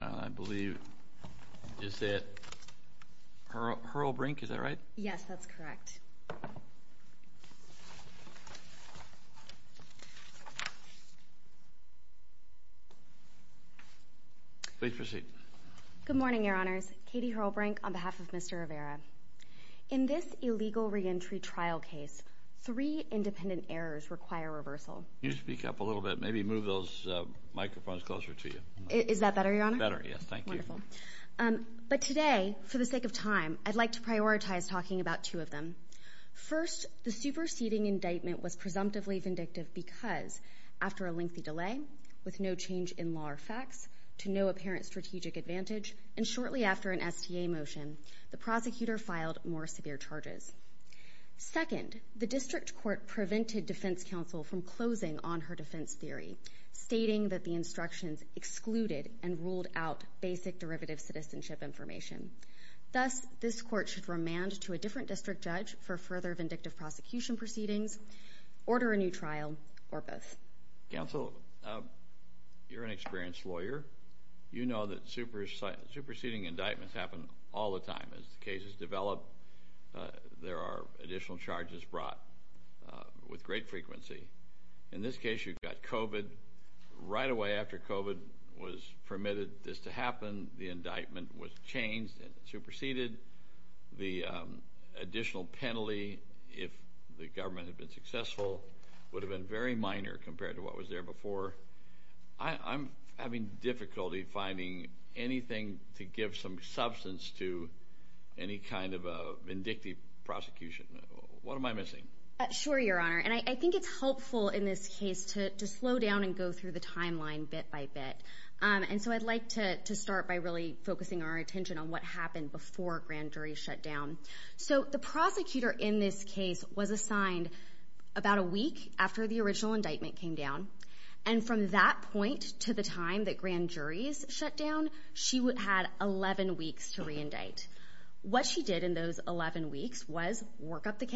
I believe, is that Hurlbrink? Is that right? Yes, that's correct. Please proceed. Good morning, Your Honors. Katie Hurlbrink on behalf of Mr. Rivera. In this illegal re-entry trial case, three independent errors require reversal. You speak up a little bit. Maybe move those microphones closer to you. Is that better, Your Honor? Better, yes. Thank you. Wonderful. But today, for the sake of time, I'd like to prioritize talking about two of them. First, the superseding indictment was presumptively vindictive because, after a lengthy delay, with no change in law or facts, to no apparent strategic advantage, and shortly after an STA motion, the prosecutor filed more severe charges. Second, the district court prevented defense counsel from closing on her defense theory, stating that the district court was unbiased and ruled out basic derivative citizenship information. Thus, this court should remand to a different district judge for further vindictive prosecution proceedings, order a new trial, or both. Counsel, you're an experienced lawyer. You know that superseding indictments happen all the time. As the cases develop, there are additional charges brought with great frequency. In this case, you've got COVID. Right away after COVID was permitted this to happen, the indictment was changed and superseded. The additional penalty, if the government had been successful, would have been very minor compared to what was there before. I'm having difficulty finding anything to give some substance to any kind of a vindictive prosecution. What am I missing? Sure, Your Honor, and I think it's helpful in this case to slow down and go through the timeline bit by bit. I'd like to start by really focusing our attention on what happened before grand jury shut down. The prosecutor in this case was assigned about a week after the original indictment came down. From that point to the time that grand juries shut down, she had 11 weeks to reindict. What she did in those 11 weeks was work up the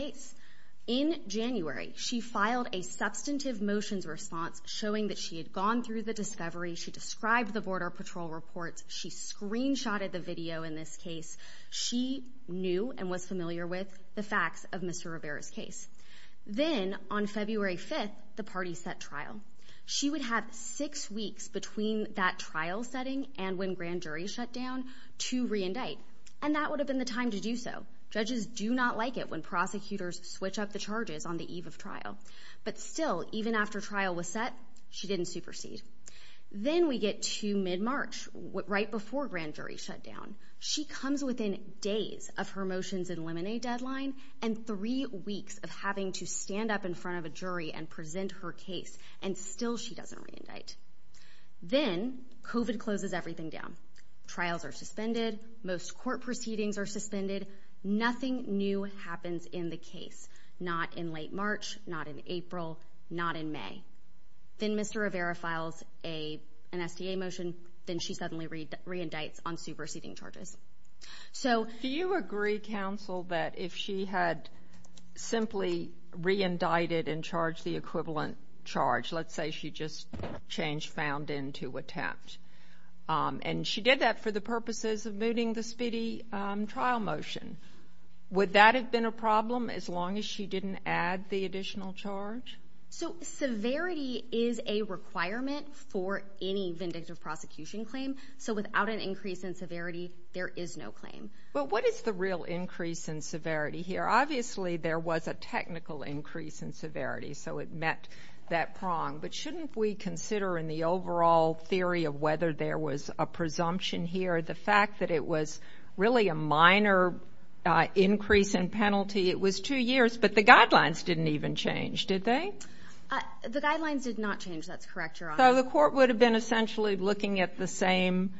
showing that she had gone through the discovery. She described the Border Patrol reports. She screenshotted the video. In this case, she knew and was familiar with the facts of Mr Rivera's case. Then, on February 5th, the party set trial. She would have six weeks between that trial setting and when grand jury shut down to reindict, and that would have been the time to do so. Judges do not like it when prosecutors switch up the charges on the eve of she didn't supersede. Then we get to mid March, right before grand jury shut down. She comes within days of her motions and lemonade deadline and three weeks of having to stand up in front of a jury and present her case, and still she doesn't reindict. Then Covid closes everything down. Trials are suspended. Most court proceedings are suspended. Nothing new happens in the case, not in Mr Rivera files a an STA motion. Then she suddenly read reindicts on superseding charges. So do you agree, counsel, that if she had simply reindicted and charged the equivalent charge, let's say she just changed, found into attempt on D. She did that for the purposes of meeting the speedy trial motion. Would that have been a problem? As long as she didn't add the requirement for any vindictive prosecution claim. So without an increase in severity, there is no claim. But what is the real increase in severity here? Obviously, there was a technical increase in severity, so it met that prong. But shouldn't we consider in the overall theory of whether there was a presumption here, the fact that it was really a minor increase in penalty? It was two years, but the guidelines didn't even change. Did they? The guidelines did not change. That's correct. So the court would have been essentially looking at the same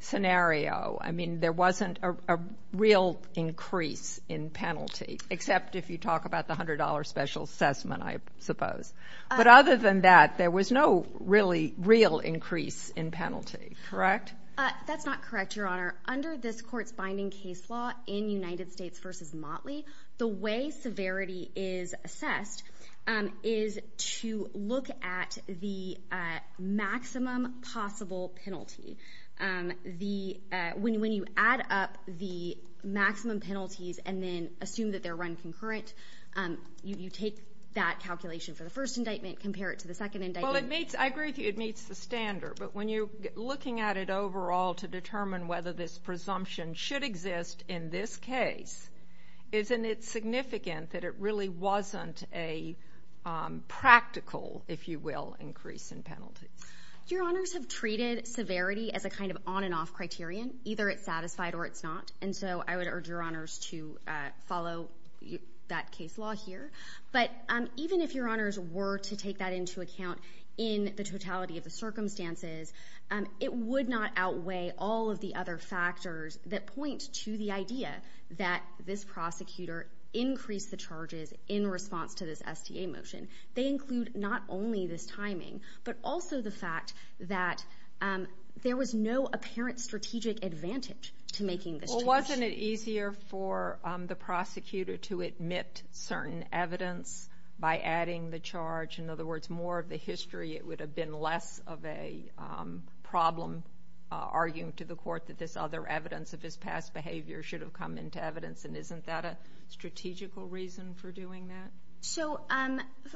scenario. I mean, there wasn't a real increase in penalty, except if you talk about the $100 special assessment, I suppose. But other than that, there was no really real increase in penalty. Correct? That's not correct, Your Honor. Under this court's binding case law in United States versus Motley, the way severity is assessed is to look at the maximum possible penalty. When you add up the maximum penalties and then assume that they're run concurrent, you take that calculation for the first indictment, compare it to the second indictment. Well, I agree with you. It meets the standard. But when you're looking at it overall to determine whether this presumption should exist in this case, isn't it significant that it really wasn't a practical, if you will, increase in penalty? Your Honors have treated severity as a kind of on and off criterion. Either it's satisfied or it's not. And so I would urge Your Honors to follow that case law here. But even if Your Honors were to take that into account in the totality of the circumstances, it would not this prosecutor increase the charges in response to this STA motion. They include not only this timing, but also the fact that there was no apparent strategic advantage to making this charge. Well, wasn't it easier for the prosecutor to admit certain evidence by adding the charge? In other words, more of the history, it would have been less of a problem arguing to the court that this other evidence of his past behavior should have come into evidence and isn't that a strategical reason for doing that? So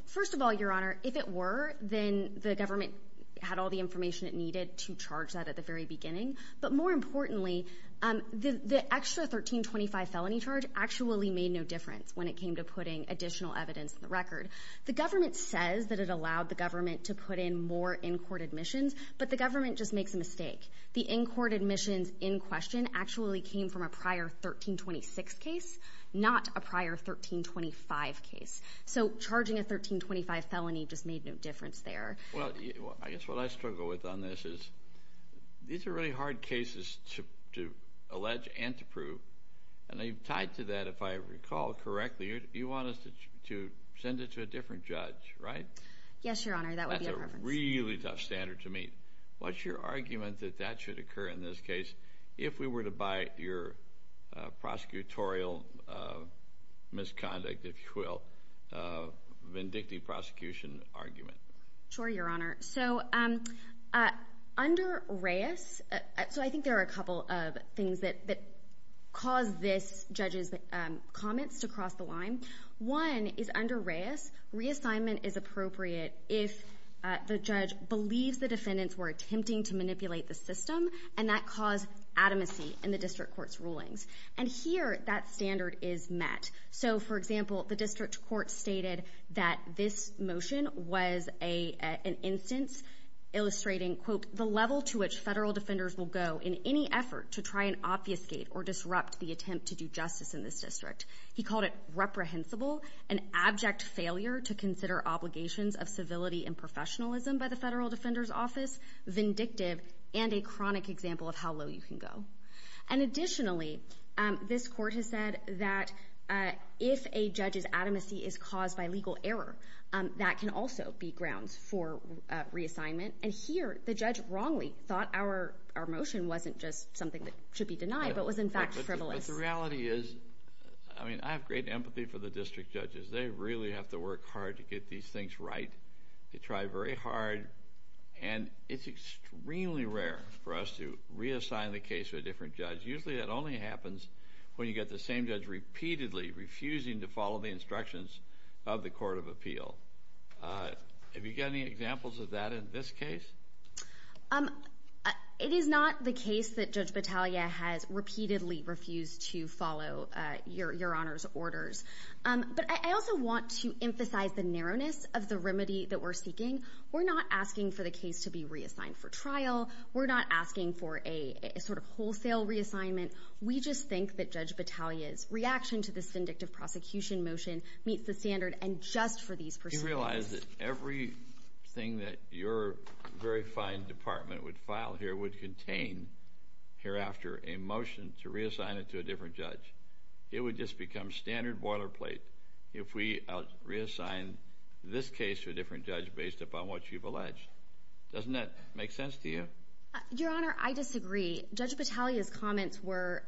first of all, Your Honor, if it were, then the government had all the information it needed to charge that at the very beginning. But more importantly, the extra 1325 felony charge actually made no difference when it came to putting additional evidence in the record. The government says that it allowed the government to put in more in-court admissions, but the government just makes a mistake. The in-court admissions in question actually came from a prior 1326 case, not a prior 1325 case. So charging a 1325 felony just made no difference there. Well, I guess what I struggle with on this is, these are really hard cases to to allege and to prove. And you've tied to that, if I recall correctly, you want us to send it to a different judge, right? Yes, Your Honor. That's a really tough standard to meet. What's your argument that that should occur in this case if we were to buy your prosecutorial misconduct, if you will, vindictive prosecution argument? Sure, Your Honor. So under Reyes, so I think there are a couple of things that cause this judge's comments to cross the line. One is under believes the defendants were attempting to manipulate the system, and that caused adamancy in the district court's rulings. And here, that standard is met. So for example, the district court stated that this motion was an instance illustrating, quote, the level to which federal defenders will go in any effort to try and obfuscate or disrupt the attempt to do justice in this district. He called it reprehensible, an abject failure to consider obligations of professionalism by the federal defender's office, vindictive, and a chronic example of how low you can go. And additionally, this court has said that if a judge's adamancy is caused by legal error, that can also be grounds for reassignment. And here, the judge wrongly thought our motion wasn't just something that should be denied, but was in fact frivolous. But the reality is, I mean, I have great empathy for the district judges. They really have to work hard to get these things right. They try very hard, and it's extremely rare for us to reassign the case to a different judge. Usually, that only happens when you get the same judge repeatedly refusing to follow the instructions of the Court of Appeal. Have you got any examples of that in this case? It is not the case that Judge Battaglia has repeatedly refused to follow Your Honor's orders. But I also want to emphasize the narrowness of the remedy that we're seeking. We're not asking for the case to be reassigned for trial. We're not asking for a sort of wholesale reassignment. We just think that Judge Battaglia's reaction to this vindictive prosecution motion meets the standard, and just for these proceedings. Do you realize that everything that your very fine department would file here would contain, hereafter, a motion to reassign it to a different judge? It would just become standard boilerplate if we reassign this case to a different judge based upon what you've alleged. Doesn't that make sense to you? Your Honor, I disagree. Judge Battaglia's comments were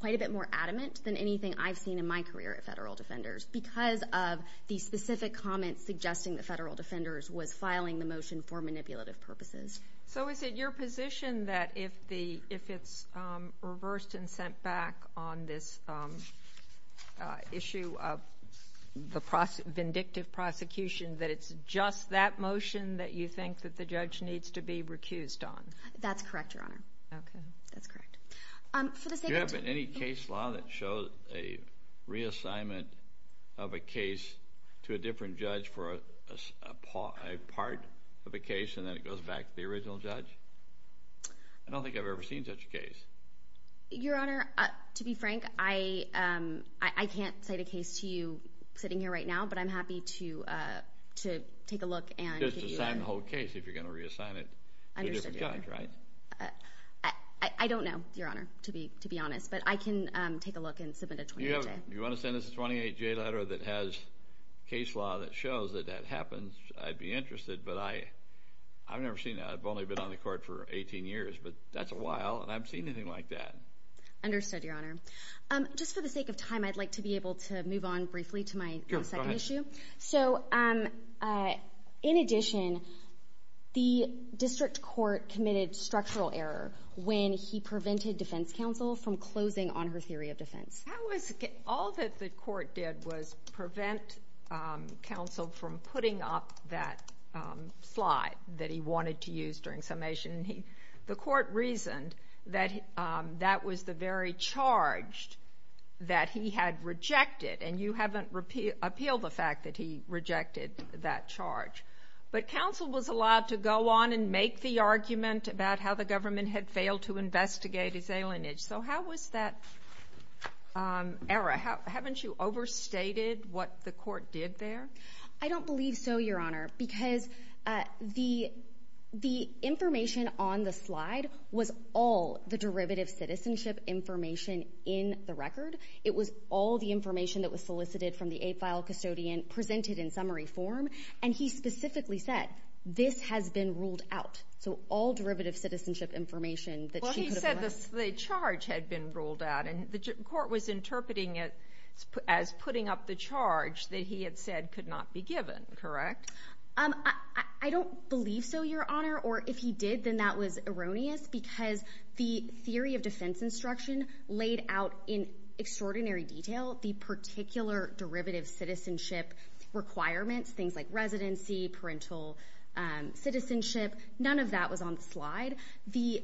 quite a bit more adamant than anything I've seen in my career at Federal Defenders because of the specific comments suggesting that Federal Defenders was filing the motion for manipulative purposes. So is it your position that if it's reversed and issued the vindictive prosecution that it's just that motion that you think that the judge needs to be recused on? That's correct, Your Honor. Okay. That's correct. Do you have any case law that shows a reassignment of a case to a different judge for a part of a case and then it goes back to the original judge? I don't think I've ever seen such a case. Your Honor, to be frank, I can't cite a case to you sitting here right now, but I'm happy to take a look. Just assign the whole case if you're going to reassign it to a different judge, right? I don't know, Your Honor, to be honest, but I can take a look and submit a 28-J. You want to send us a 28-J letter that has case law that shows that that happens? I'd be interested, but I I've never seen that. I've only been on the court for 18 years, but that's a while and I've seen anything like that. Understood, Your Honor. Just for the sake of time, I'd like to be able to move on briefly to my second issue. So, in addition, the district court committed structural error when he prevented defense counsel from closing on her theory of defense. All that the court did was prevent counsel from putting up that slide that he wanted to use during summation. The that was the very charge that he had rejected, and you haven't appealed the fact that he rejected that charge. But counsel was allowed to go on and make the argument about how the government had failed to investigate his alienage. So how was that error? Haven't you overstated what the court did there? I don't believe so, Your Honor, because the information on the slide was all the derivative citizenship information in the record. It was all the information that was solicited from the eight-file custodian presented in summary form, and he specifically said, this has been ruled out. So all derivative citizenship information that she could have allowed. Well, he said the charge had been ruled out, and the court was interpreting it as putting up the charge that he had said could not be given, correct? I don't believe so, Your Honor, or if he did, then that was erroneous because the theory of defense instruction laid out in extraordinary detail the particular derivative citizenship requirements, things like residency, parental citizenship. None of that was on the slide. The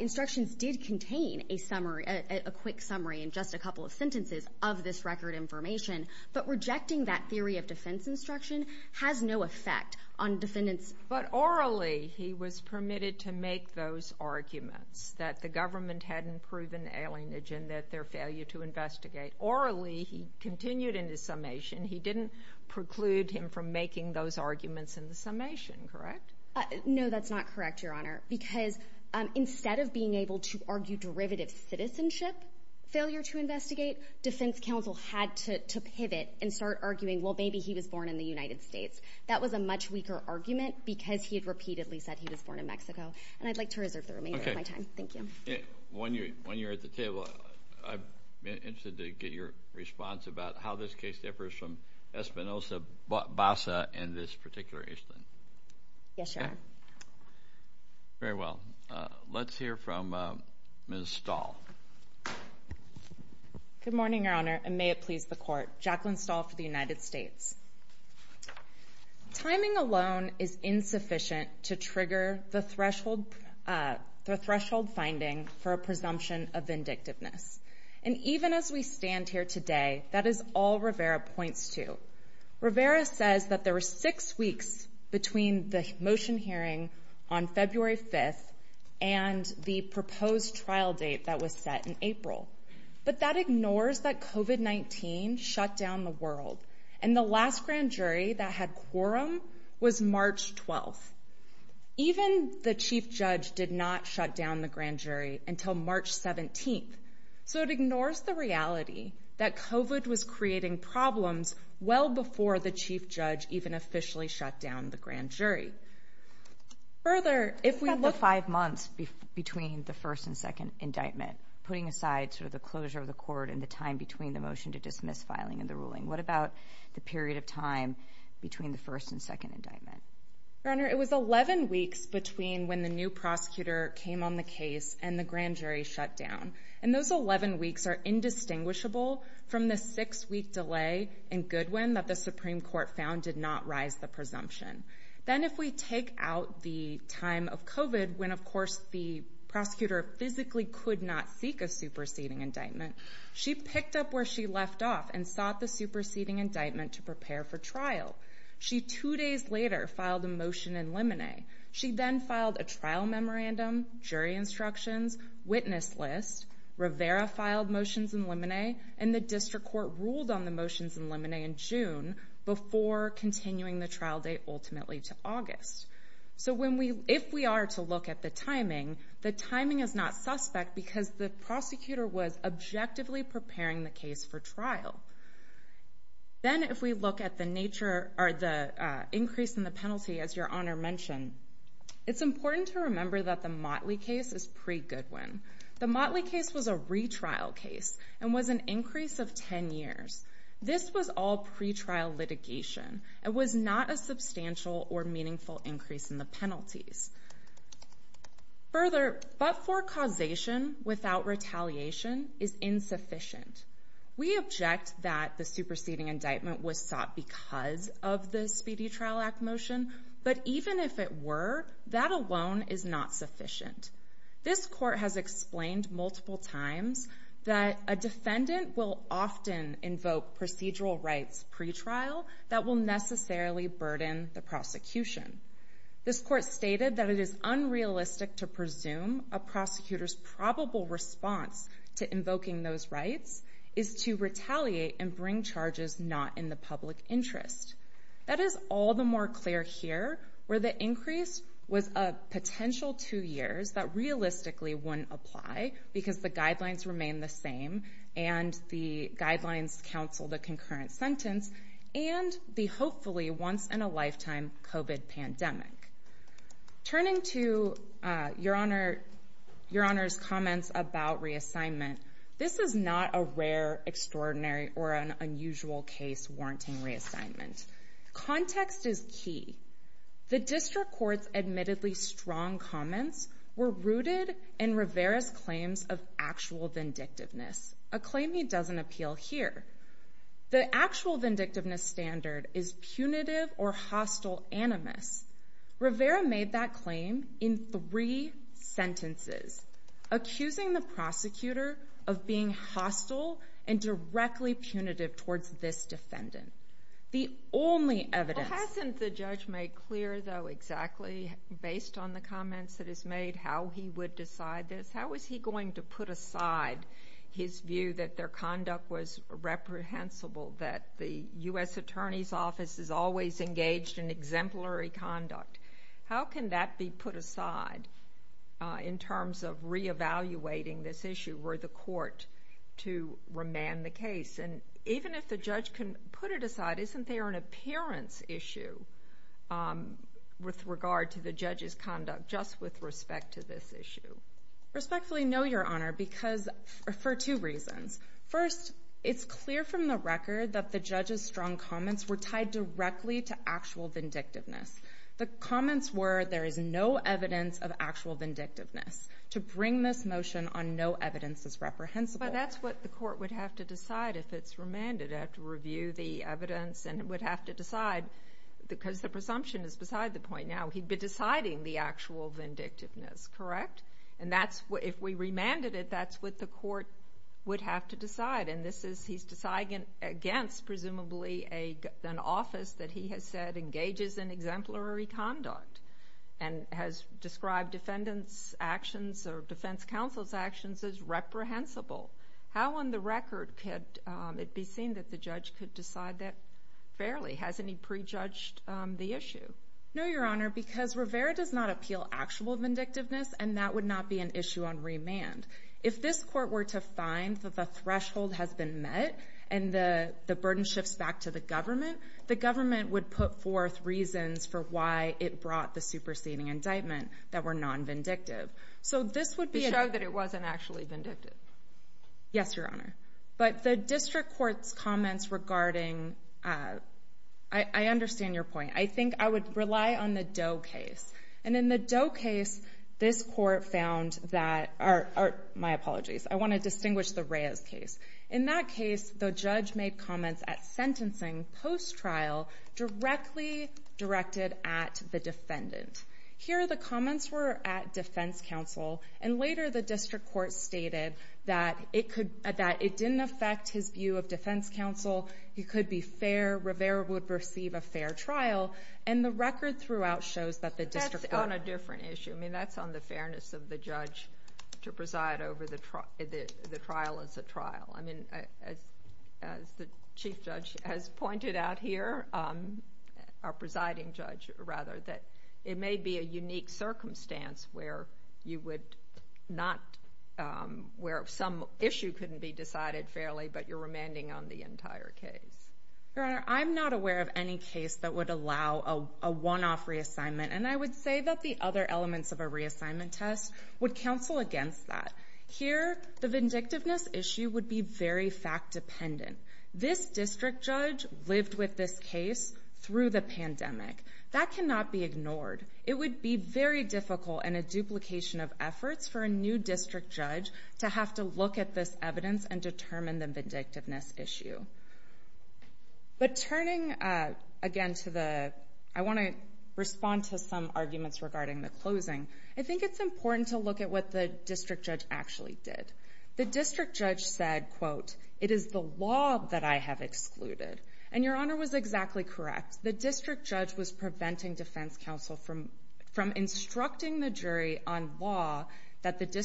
instructions did contain a summary, a quick summary in just a couple of sentences of this record information, but rejecting that theory of defense instruction has no make those arguments, that the government hadn't proven alienage and that their failure to investigate. Orally, he continued in his summation. He didn't preclude him from making those arguments in the summation, correct? No, that's not correct, Your Honor, because instead of being able to argue derivative citizenship failure to investigate, defense counsel had to pivot and start arguing, well, maybe he was born in the United States. That was a much weaker argument because he had repeatedly said he was born in Mexico, and I'd like to reserve the remainder of my time. Thank you. When you're at the table, I'm interested to get your response about how this case differs from Espinosa-Bassa in this particular instance. Yes, Your Honor. Very well. Let's hear from Ms. Stahl. Good morning, Your Honor, and may it please the court. Jacqueline Stahl for the United States. Timing alone is insufficient to trigger the threshold finding for a presumption of vindictiveness. And even as we stand here today, that is all Rivera points to. Rivera says that there were six weeks between the motion hearing on February 5th and the proposed trial date that was set in April. But that ignores that COVID-19 shut down the world. And the last grand jury that had quorum was March 12th. Even the chief judge did not shut down the grand jury until March 17th. So it ignores the reality that COVID was creating problems well before the chief judge even officially shut down the grand jury. Further, if we look at the five months between the first and second indictment, putting aside sort of the closure of the court and the time between the motion to dismiss filing in the ruling, what about the period of time between the first and second indictment? Your Honor, it was 11 weeks between when the new prosecutor came on the case and the grand jury shut down. And those 11 weeks are indistinguishable from the six week delay in Goodwin that the Supreme Court found did not rise the presumption. Then if we take out the time of COVID, when of course the prosecutor physically could not seek a superseding indictment, she picked up where she left off and sought the superseding indictment to prepare for trial. She two days later filed a motion in limine. She then filed a trial memorandum, jury instructions, witness list, Rivera filed motions in limine, and the district court ruled on the motions in limine in June before continuing the trial date ultimately to if we are to look at the timing, the timing is not suspect because the prosecutor was objectively preparing the case for trial. Then if we look at the nature or the increase in the penalty, as your Honor mentioned, it's important to remember that the Motley case is pre-Goodwin. The Motley case was a retrial case and was an increase of 10 years. This was all pretrial litigation. It was not a substantial or meaningful increase in penalties. Further, but for causation without retaliation is insufficient. We object that the superseding indictment was sought because of the Speedy Trial Act motion, but even if it were, that alone is not sufficient. This court has explained multiple times that a defendant will often invoke procedural rights pretrial that will necessarily burden the prosecution. This court stated that it is unrealistic to presume a prosecutor's probable response to invoking those rights is to retaliate and bring charges not in the public interest. That is all the more clear here where the increase was a potential two years that realistically wouldn't apply because the guidelines remain the same, and the guidelines counsel the concurrent sentence and the hopefully once in a lifetime COVID pandemic. Turning to your Honor, your Honor's comments about reassignment. This is not a rare, extraordinary or an unusual case warranting reassignment. Context is key. The district court's admittedly strong comments were rooted in Rivera's claims of actual vindictiveness, a claim he doesn't appeal here. The actual vindictiveness standard is punitive or hostile animus. Rivera made that claim in three sentences, accusing the prosecutor of being hostile and directly punitive towards this defendant. The only evidence hasn't the judge made clear, though, exactly based on the comments that is made how he would decide this. How is he going to put aside his view that their conduct was reprehensible, that the U. S. Attorney's Office is always engaged in exemplary conduct? How can that be put aside in terms of reevaluating this issue where the court to remand the case and even if the judge can put it aside, isn't there an appearance issue, um, with regard to the judge's conduct just with respect to this issue? Respectfully, no, your Honor, because for two reasons. First, it's clear from the record that the judge's strong comments were tied directly to actual vindictiveness. The comments were there is no evidence of actual vindictiveness to bring this motion on no evidence is reprehensible. That's what the court would have to review the evidence and would have to decide because the presumption is beside the point. Now he'd be deciding the actual vindictiveness, correct? And that's what if we remanded it, that's what the court would have to decide. And this is he's decided against presumably a an office that he has said engages in exemplary conduct and has described defendants actions or defense counsel's actions is reprehensible. How on the record could it be seen that the judge could decide that fairly? Has any prejudged the issue? No, your Honor, because Rivera does not appeal actual vindictiveness, and that would not be an issue on remand. If this court were to find that the threshold has been met and the burden shifts back to the government, the government would put forth reasons for why it brought the superseding indictment that were non vindictive. So this would be a show that it wasn't actually vindictive. Yes, your Honor. But the district court's comments regarding, uh, I understand your point. I think I would rely on the Doe case. And in the Doe case, this court found that are my apologies. I want to distinguish the Reyes case. In that case, the judge made comments at sentencing post trial directly directed at the defendant. Here the comments were at defense counsel, and later the district court stated that it could that it didn't affect his view of defense counsel. He could be fair. Rivera would receive a fair trial, and the record throughout shows that the district on a different issue. I mean, that's on the fairness of the judge to preside over the trial is a trial. I mean, as the chief judge has pointed out here, um, our presiding judge rather that it may be a unique circumstance where you would not where some issue couldn't be decided fairly, but you're remanding on the entire case. Your Honor, I'm not aware of any case that would allow a one off reassignment. And I would say that the other elements of a reassignment test would counsel against that. Here, the vindictiveness issue would be very fact dependent. This district judge lived with this case through the pandemic. That cannot be ignored. It would be very difficult and a duplication of efforts for a new district judge to have to look at this evidence and determine the vindictiveness issue. But turning again to the I want to respond to some arguments regarding the closing. I think it's important to look at what the district judge actually did. The district judge said, quote, It is the law that I have excluded. And your honor was exactly correct. The district judge was preventing defense counsel from from instructing the jury on law that the district